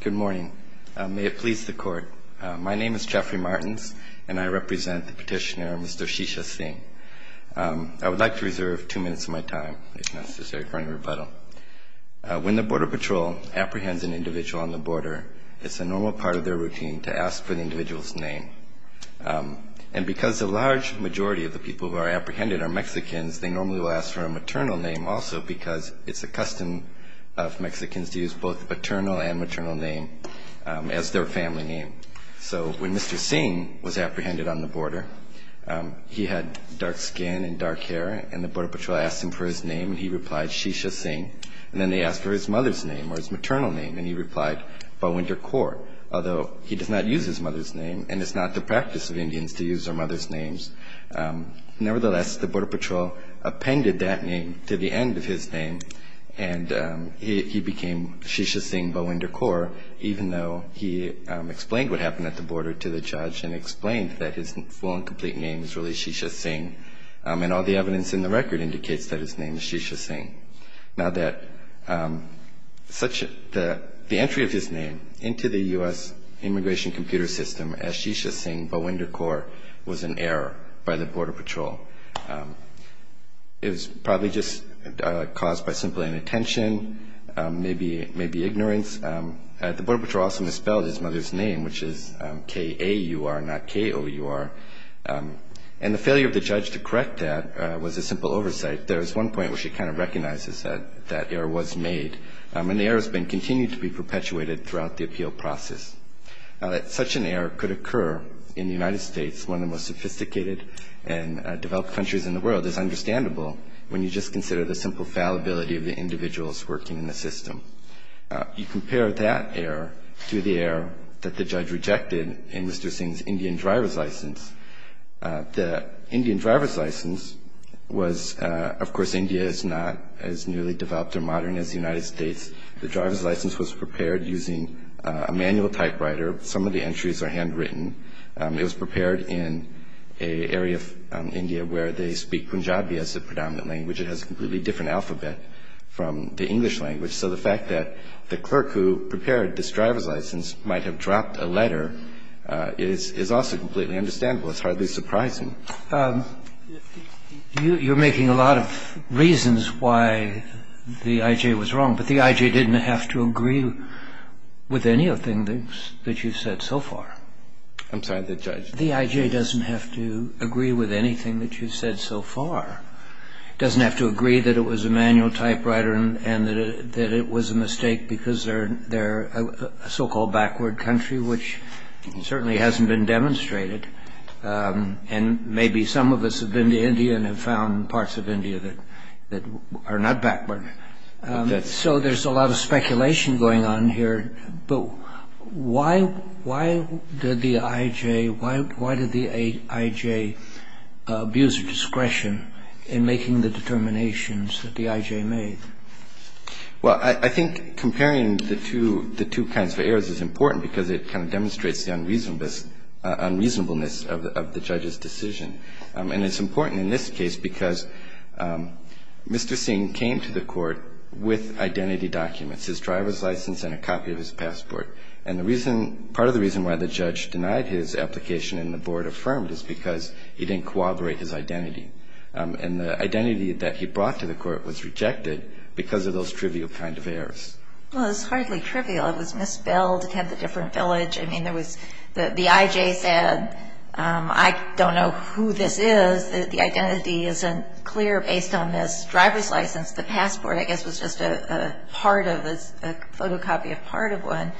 Good morning. May it please the Court. My name is Jeffrey Martins, and I represent the petitioner Mr. Shisha Singh. I would like to reserve two minutes of my time, if necessary, for any rebuttal. When the Border Patrol apprehends an individual on the border, it's a normal part of their routine to ask for the individual's name. And because the large majority of the people who are apprehended are Mexicans, they normally will ask for a maternal name also, because it's a custom of Mexicans to use both paternal and maternal name as their family name. So when Mr. Singh was apprehended on the border, he had dark skin and dark hair, and the Border Patrol asked him for his name, and he replied Shisha Singh. And then they asked for his mother's name or his maternal name, and he replied Balwinder Kour, although he does not use his mother's name, and it's not the practice of Indians to use their mother's names. Nevertheless, the Border Patrol appended that name to the end of his name, and he became Shisha Singh Balwinder Kour, even though he explained what happened at the border to the judge and explained that his full and complete name is really Shisha Singh, and all the evidence in the record indicates that his name is Shisha Singh. Now, the entry of his name into the U.S. immigration computer system as Shisha Singh Balwinder Kour was an error by the Border Patrol. It was probably just caused by simply inattention, maybe ignorance. The Border Patrol also misspelled his mother's name, which is K-A-U-R, not K-O-U-R, and the failure of the judge to correct that was a simple oversight. There is one point where she kind of recognizes that that error was made, and the error has been continued to be perpetuated throughout the appeal process. Now, that such an error could occur in the United States, one of the most sophisticated and developed countries in the world, is understandable when you just consider the simple fallibility of the individuals working in the system. You compare that error to the error that the judge rejected in Mr. Singh's Indian driver's license. The Indian driver's license was, of course, India is not as newly developed or modern as the United States. The driver's license was prepared using a manual typewriter. Some of the entries are handwritten. It was prepared in an area of India where they speak Punjabi as the predominant language. It has a completely different alphabet from the English language. So the fact that the clerk who prepared this driver's license might have dropped a letter is also completely understandable. It's hardly surprising. You're making a lot of reasons why the I.J. was wrong, but the I.J. didn't have to agree with anything that you've said so far. I'm sorry, the judge? The I.J. doesn't have to agree with anything that you've said so far. It doesn't have to agree that it was a manual typewriter and that it was a mistake because they're a so-called backward country, which certainly hasn't been demonstrated. And maybe some of us have been to India and have found parts of India that are not backward. So there's a lot of speculation going on here. But why did the I.J. abuse discretion in making the determinations that the I.J. made? Well, I think comparing the two kinds of errors is important because it kind of demonstrates the unreasonableness of the judge's decision. And it's important in this case because Mr. Singh came to the court with identity documents, his driver's license and a copy of his passport. And part of the reason why the judge denied his application and the board affirmed it is because he didn't corroborate his identity. And the identity that he brought to the court was rejected because of those trivial kind of errors. Well, it was hardly trivial. It was misspelled. It had the different village. I mean, there was the I.J. said, I don't know who this is. The identity isn't clear based on this driver's license. The passport, I guess, was just a part of this, a photocopy of part of one.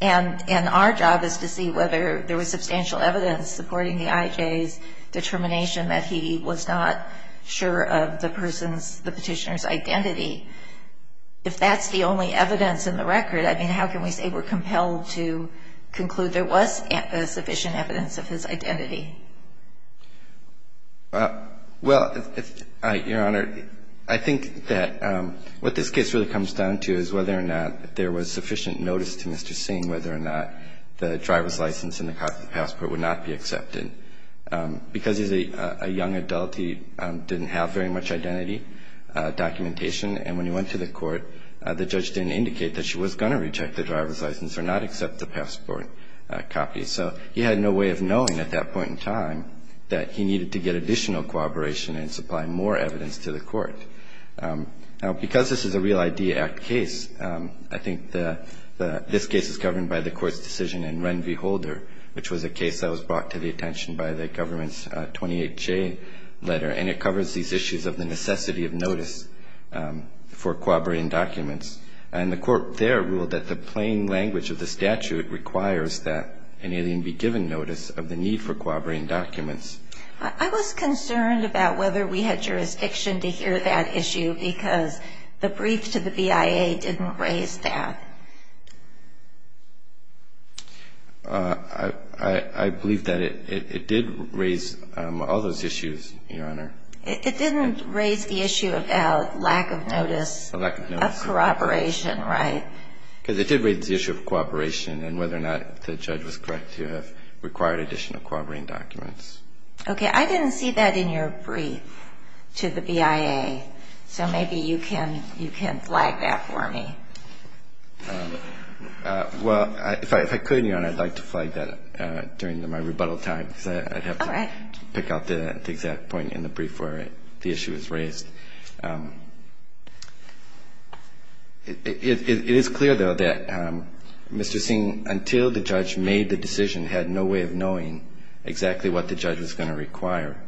And our job is to see whether there was substantial evidence supporting the I.J.'s determination that he was not sure of the person's, the petitioner's identity. If that's the only evidence in the record, I mean, how can we say we're compelled to conclude there was sufficient evidence of his identity? Well, Your Honor, I think that what this case really comes down to is whether or not there was sufficient notice to Mr. Singh, whether or not the driver's license and the passport would not be accepted. Because he's a young adult, he didn't have very much identity documentation. And when he went to the court, the judge didn't indicate that she was going to reject the driver's license or not accept the passport copy. So he had no way of knowing at that point in time that he needed to get additional cooperation and supply more evidence to the court. Now, because this is a Real ID Act case, I think this case is governed by the court's decision in Ren v. Holder, which was a case that was brought to the attention by the government's 28J letter. And it covers these issues of the necessity of notice for cooperating documents. And the court there ruled that the plain language of the statute requires that an alien be given notice of the need for cooperating documents. I was concerned about whether we had jurisdiction to hear that issue because the brief to the BIA didn't raise that. I believe that it did raise all those issues, Your Honor. It didn't raise the issue of lack of notice of cooperation, right? Because it did raise the issue of cooperation and whether or not the judge was correct to have required additional cooperating documents. Okay. I didn't see that in your brief to the BIA. So maybe you can flag that for me. Well, if I could, Your Honor, I'd like to flag that during my rebuttal time. All right. Because I'd have to pick out the exact point in the brief where the issue was raised. It is clear, though, that Mr. Singh, until the judge made the decision, had no way of knowing exactly what the judge was going to require.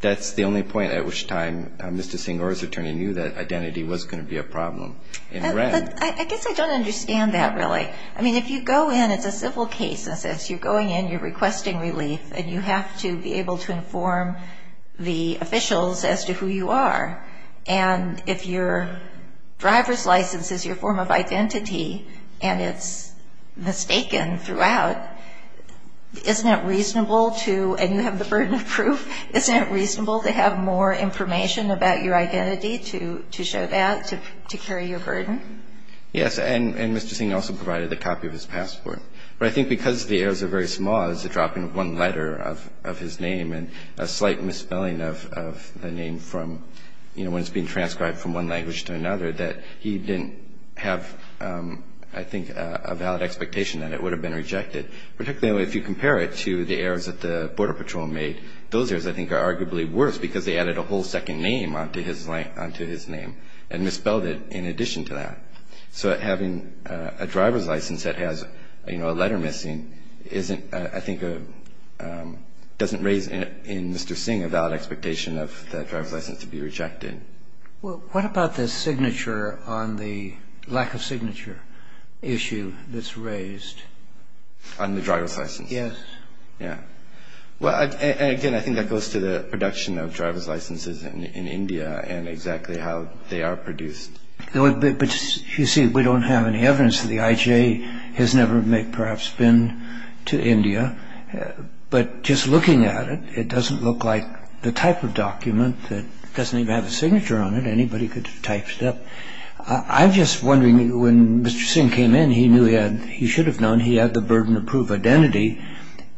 That's the only point at which time Mr. Singh or his attorney knew that identity was going to be a problem. I guess I don't understand that really. I mean, if you go in, it's a civil case. You're going in, you're requesting relief, and you have to be able to inform the officials as to who you are. And if your driver's license is your form of identity and it's mistaken throughout, isn't it reasonable to, and you have the burden of proof, isn't it reasonable to have more information about your identity to show that, to carry your burden? Yes, and Mr. Singh also provided a copy of his passport. But I think because the errors are very small, it's a drop in one letter of his name and a slight misspelling of the name from, you know, when it's being transcribed from one language to another, that he didn't have, I think, a valid expectation that it would have been rejected. Particularly if you compare it to the errors that the Border Patrol made. Those errors, I think, are arguably worse because they added a whole second name onto his name and misspelled it in addition to that. So having a driver's license that has, you know, a letter missing isn't, I think, doesn't raise in Mr. Singh a valid expectation of that driver's license to be rejected. Well, what about the signature on the lack of signature issue that's raised? On the driver's license? Yes. Yeah. Well, again, I think that goes to the production of driver's licenses in India and exactly how they are produced. But, you see, we don't have any evidence that the IJ has never, perhaps, been to India. But just looking at it, it doesn't look like the type of document that doesn't even have a signature on it. Anybody could have typed it up. I'm just wondering, when Mr. Singh came in, he knew he had, he should have known he had the burden of proof of identity.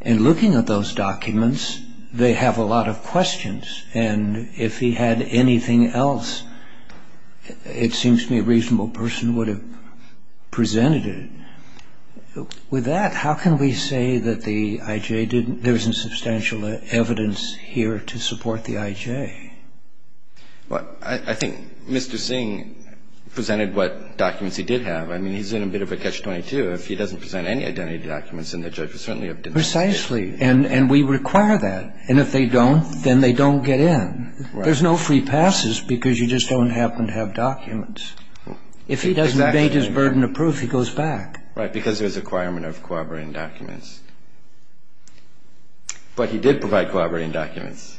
And looking at those documents, they have a lot of questions. And if he had anything else, it seems to me a reasonable person would have presented it. With that, how can we say that the IJ didn't, there isn't substantial evidence here to support the IJ? Well, I think Mr. Singh presented what documents he did have. I mean, he's in a bit of a catch-22. If he doesn't present any identity documents, then the judge would certainly have denied it. Precisely. And we require that. And if they don't, then they don't get in. Right. There's no free passes because you just don't happen to have documents. If he doesn't debate his burden of proof, he goes back. Right. Because there's a requirement of corroborating documents. But he did provide corroborating documents.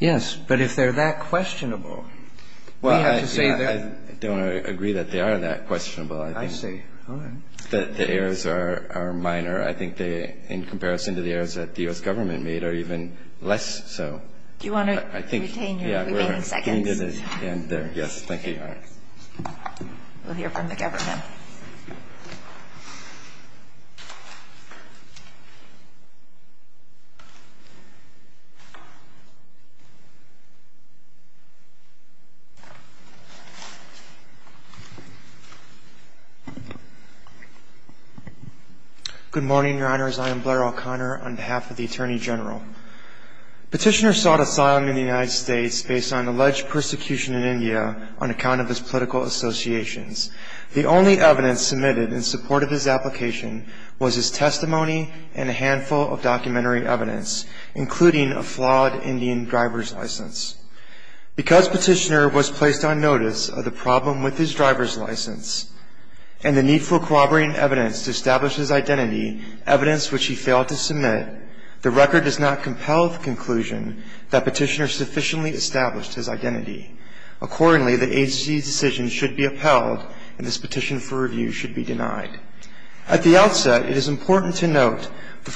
Yes. But if they're that questionable, we have to say that. Well, I don't agree that they are that questionable, I think. I see. All right. The errors are minor. I think they, in comparison to the errors that the U.S. Government made, are even less so. Do you want to retain your remaining seconds? Yeah, we're getting to the end there. Yes. Thank you. All right. We'll hear from the government. Good morning, Your Honors. I am Blair O'Connor on behalf of the Attorney General. Petitioner sought asylum in the United States based on alleged persecution in India on account of his political associations. The only evidence submitted in support of his application was his testimony and a handful of documentary evidence, including a flawed Indian driver's license. Because Petitioner was placed on notice of the problem with his driver's license and the need for corroborating evidence to establish his identity, evidence which he failed to submit, the record does not compel the conclusion that Petitioner sufficiently established his identity. Accordingly, the agency's decision should be upheld, and this petition for review should be denied. At the outset, it is important to note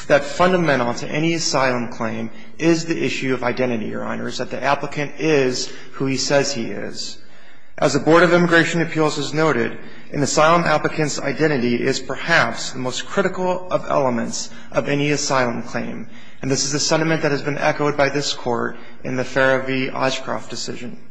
that fundamental to any asylum claim is the issue of identity, Your Honors, that the applicant is who he says he is. As the Board of Immigration Appeals has noted, an asylum applicant's identity is perhaps the most critical of elements of any asylum claim, and this is a sentiment that has been echoed by this Court in the Farra V. Oshkroft decision.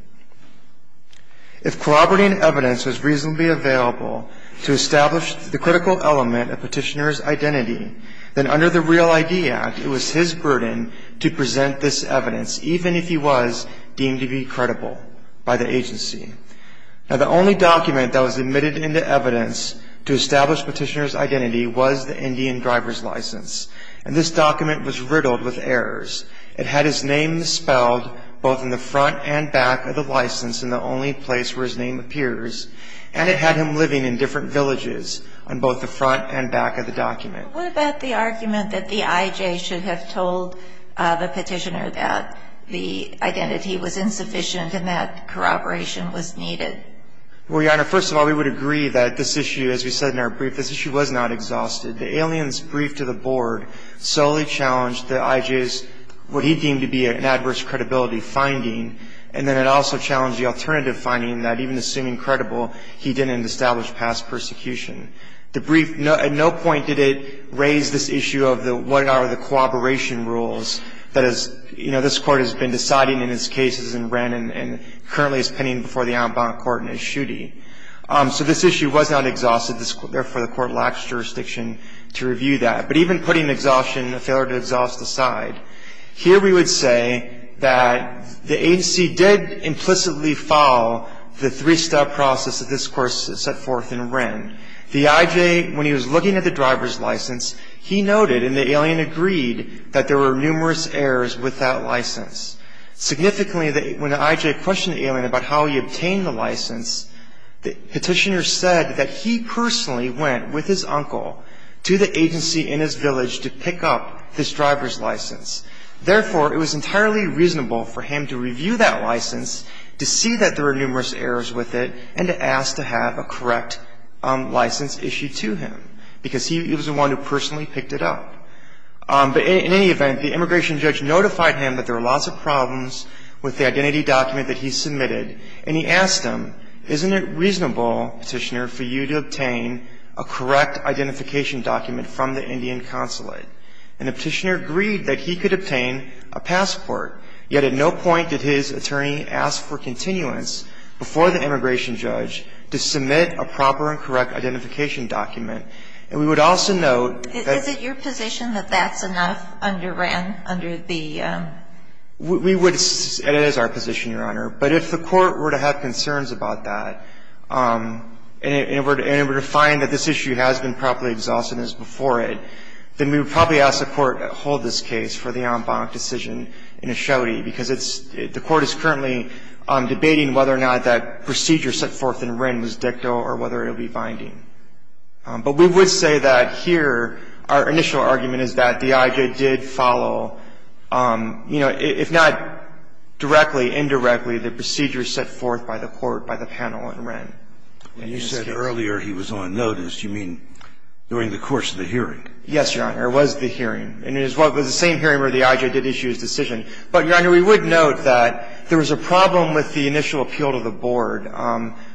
If corroborating evidence was reasonably available to establish the critical element of Petitioner's identity, then under the Real ID Act, it was his burden to present this evidence, even if he was deemed to be credible by the agency. Now the only document that was admitted into evidence to establish Petitioner's identity was the Indian driver's license, and this document was riddled with errors. It had his name spelled both in the front and back of the license in the only place where his name appears, and it had him living in different villages on both the front and back of the document. What about the argument that the IJ should have told the Petitioner that the Well, Your Honor, first of all, we would agree that this issue, as we said in our brief, this issue was not exhausted. The alien's brief to the Board solely challenged the IJ's, what he deemed to be an adverse credibility finding, and then it also challenged the alternative finding that even assuming credible, he didn't establish past persecution. The brief at no point did it raise this issue of the what are the cooperation rules that has, you know, this Court has been deciding in its cases and ran, and currently is pending before the outbound court in Eschuti. So this issue was not exhausted. Therefore, the Court lacks jurisdiction to review that. But even putting exhaustion, failure to exhaust aside, here we would say that the agency did implicitly follow the three-step process that this Court set forth and ran. The IJ, when he was looking at the driver's license, he noted, and the alien agreed, that there were numerous errors with that license. Significantly, when the IJ questioned the alien about how he obtained the license, the Petitioner said that he personally went with his uncle to the agency in his village to pick up this driver's license. Therefore, it was entirely reasonable for him to review that license, to see that there were numerous errors with it, and to ask to have a correct license issued to him, because he was the one who personally picked it up. But in any event, the immigration judge notified him that there were lots of problems with the identity document that he submitted, and he asked him, isn't it reasonable, Petitioner, for you to obtain a correct identification document from the Indian Consulate? And the Petitioner agreed that he could obtain a passport, yet at no point did his attorney ask for continuance before the immigration judge to submit a proper and correct identification document. And we would also note that Is it your position that that's enough under Wren, under the We would, it is our position, Your Honor. But if the Court were to have concerns about that, and were to find that this issue has been properly exhausted as before it, then we would probably ask the Court to hold this case for the en banc decision in a shoddy, because it's, the Court is currently debating whether or not that procedure set forth in Wren was dicto or whether it will be binding. But we would say that here our initial argument is that the IJ did follow, you know, if not directly, indirectly, the procedures set forth by the Court, by the panel in Wren. And you said earlier he was on notice. You mean during the course of the hearing? Yes, Your Honor. It was the hearing. And it was the same hearing where the IJ did issue his decision. But, Your Honor, we would note that there was a problem with the initial appeal to the board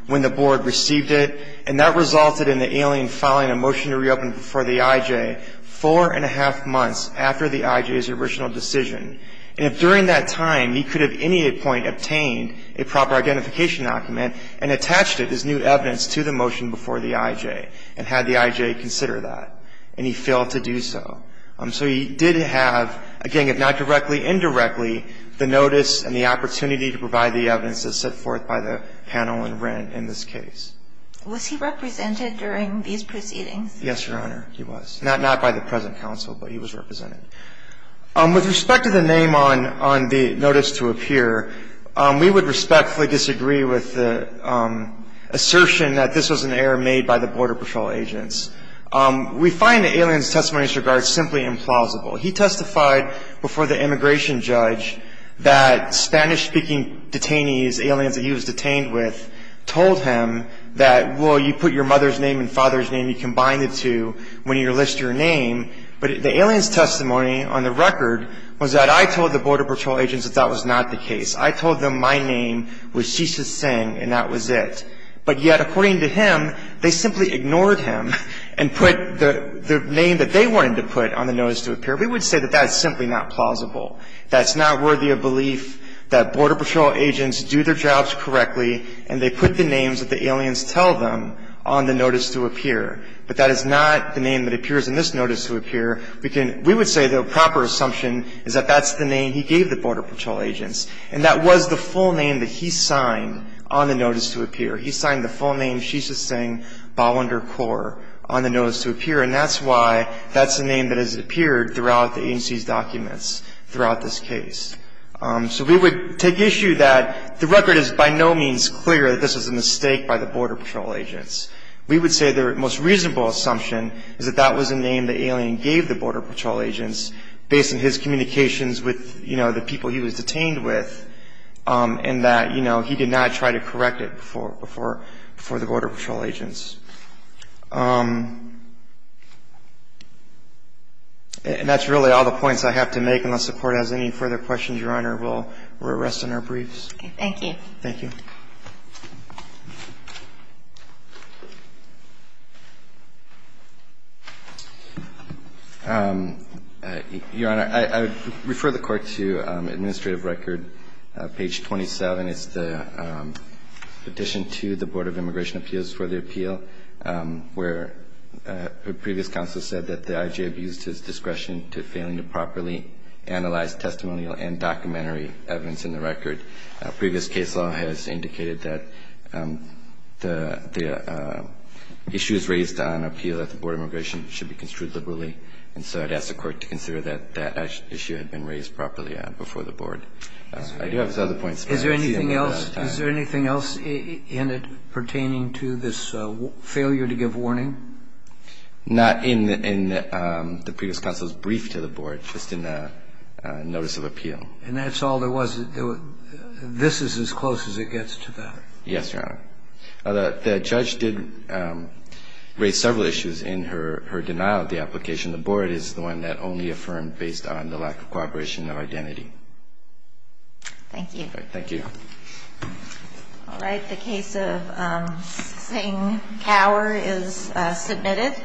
when the board received it. And that resulted in the alien filing a motion to reopen before the IJ four and a half months after the IJ's original decision. And if during that time he could have at any point obtained a proper identification document and attached it as new evidence to the motion before the IJ and had the IJ consider that, and he failed to do so. So he did have, again, if not directly, indirectly, the notice and the opportunity to provide the evidence that's set forth by the panel in Wren in this case. Was he represented during these proceedings? Yes, Your Honor. He was. Not by the present counsel, but he was represented. With respect to the name on the notice to appear, we would respectfully disagree with the assertion that this was an error made by the Border Patrol agents. We find the alien's testimony in this regard simply implausible. He testified before the immigration judge that Spanish-speaking detainees, aliens that he was detained with, told him that, well, you put your mother's name and father's name, you combine the two when you list your name. But the alien's testimony on the record was that I told the Border Patrol agents that that was not the case. I told them my name was Shisha Singh and that was it. But yet, according to him, they simply ignored him and put the name that they wanted to put on the notice to appear. We would say that that's simply not plausible. That's not worthy of belief that Border Patrol agents do their jobs correctly and they put the names that the aliens tell them on the notice to appear. But that is not the name that appears in this notice to appear. We would say the proper assumption is that that's the name he gave the Border Patrol agents. And that was the full name that he signed on the notice to appear. He signed the full name, Shisha Singh Balwinder Kaur, on the notice to appear. And that's why that's the name that has appeared throughout the agency's throughout this case. So we would take issue that the record is by no means clear that this was a mistake by the Border Patrol agents. We would say the most reasonable assumption is that that was the name the alien gave the Border Patrol agents based on his communications with, you know, the people he was detained with and that, you know, he did not try to correct it before the Border Patrol agents. And that's really all the points I have to make. Unless the Court has any further questions, Your Honor, we'll rest in our briefs. Okay. Thank you. Thank you. Your Honor, I would refer the Court to administrative record, page 27. It's the petition to the Board of Immigration Appeals for the appeal. And I think we have a case in the record where the previous counsel said that the IJ abused his discretion to failing to properly analyze testimonial and documentary evidence in the record. Previous case law has indicated that the issues raised on appeal at the Board of Immigration should be construed liberally. And so I'd ask the Court to consider that that issue had been raised properly before the Board. I do have some other points. Is there anything else in it pertaining to this failure to give warning? Not in the previous counsel's brief to the Board, just in the notice of appeal. And that's all there was. This is as close as it gets to that. Yes, Your Honor. The judge did raise several issues in her denial of the application. The Board is the one that only affirmed based on the lack of cooperation of identity. Thank you. Thank you. All right. The case of Singh-Cower is submitted.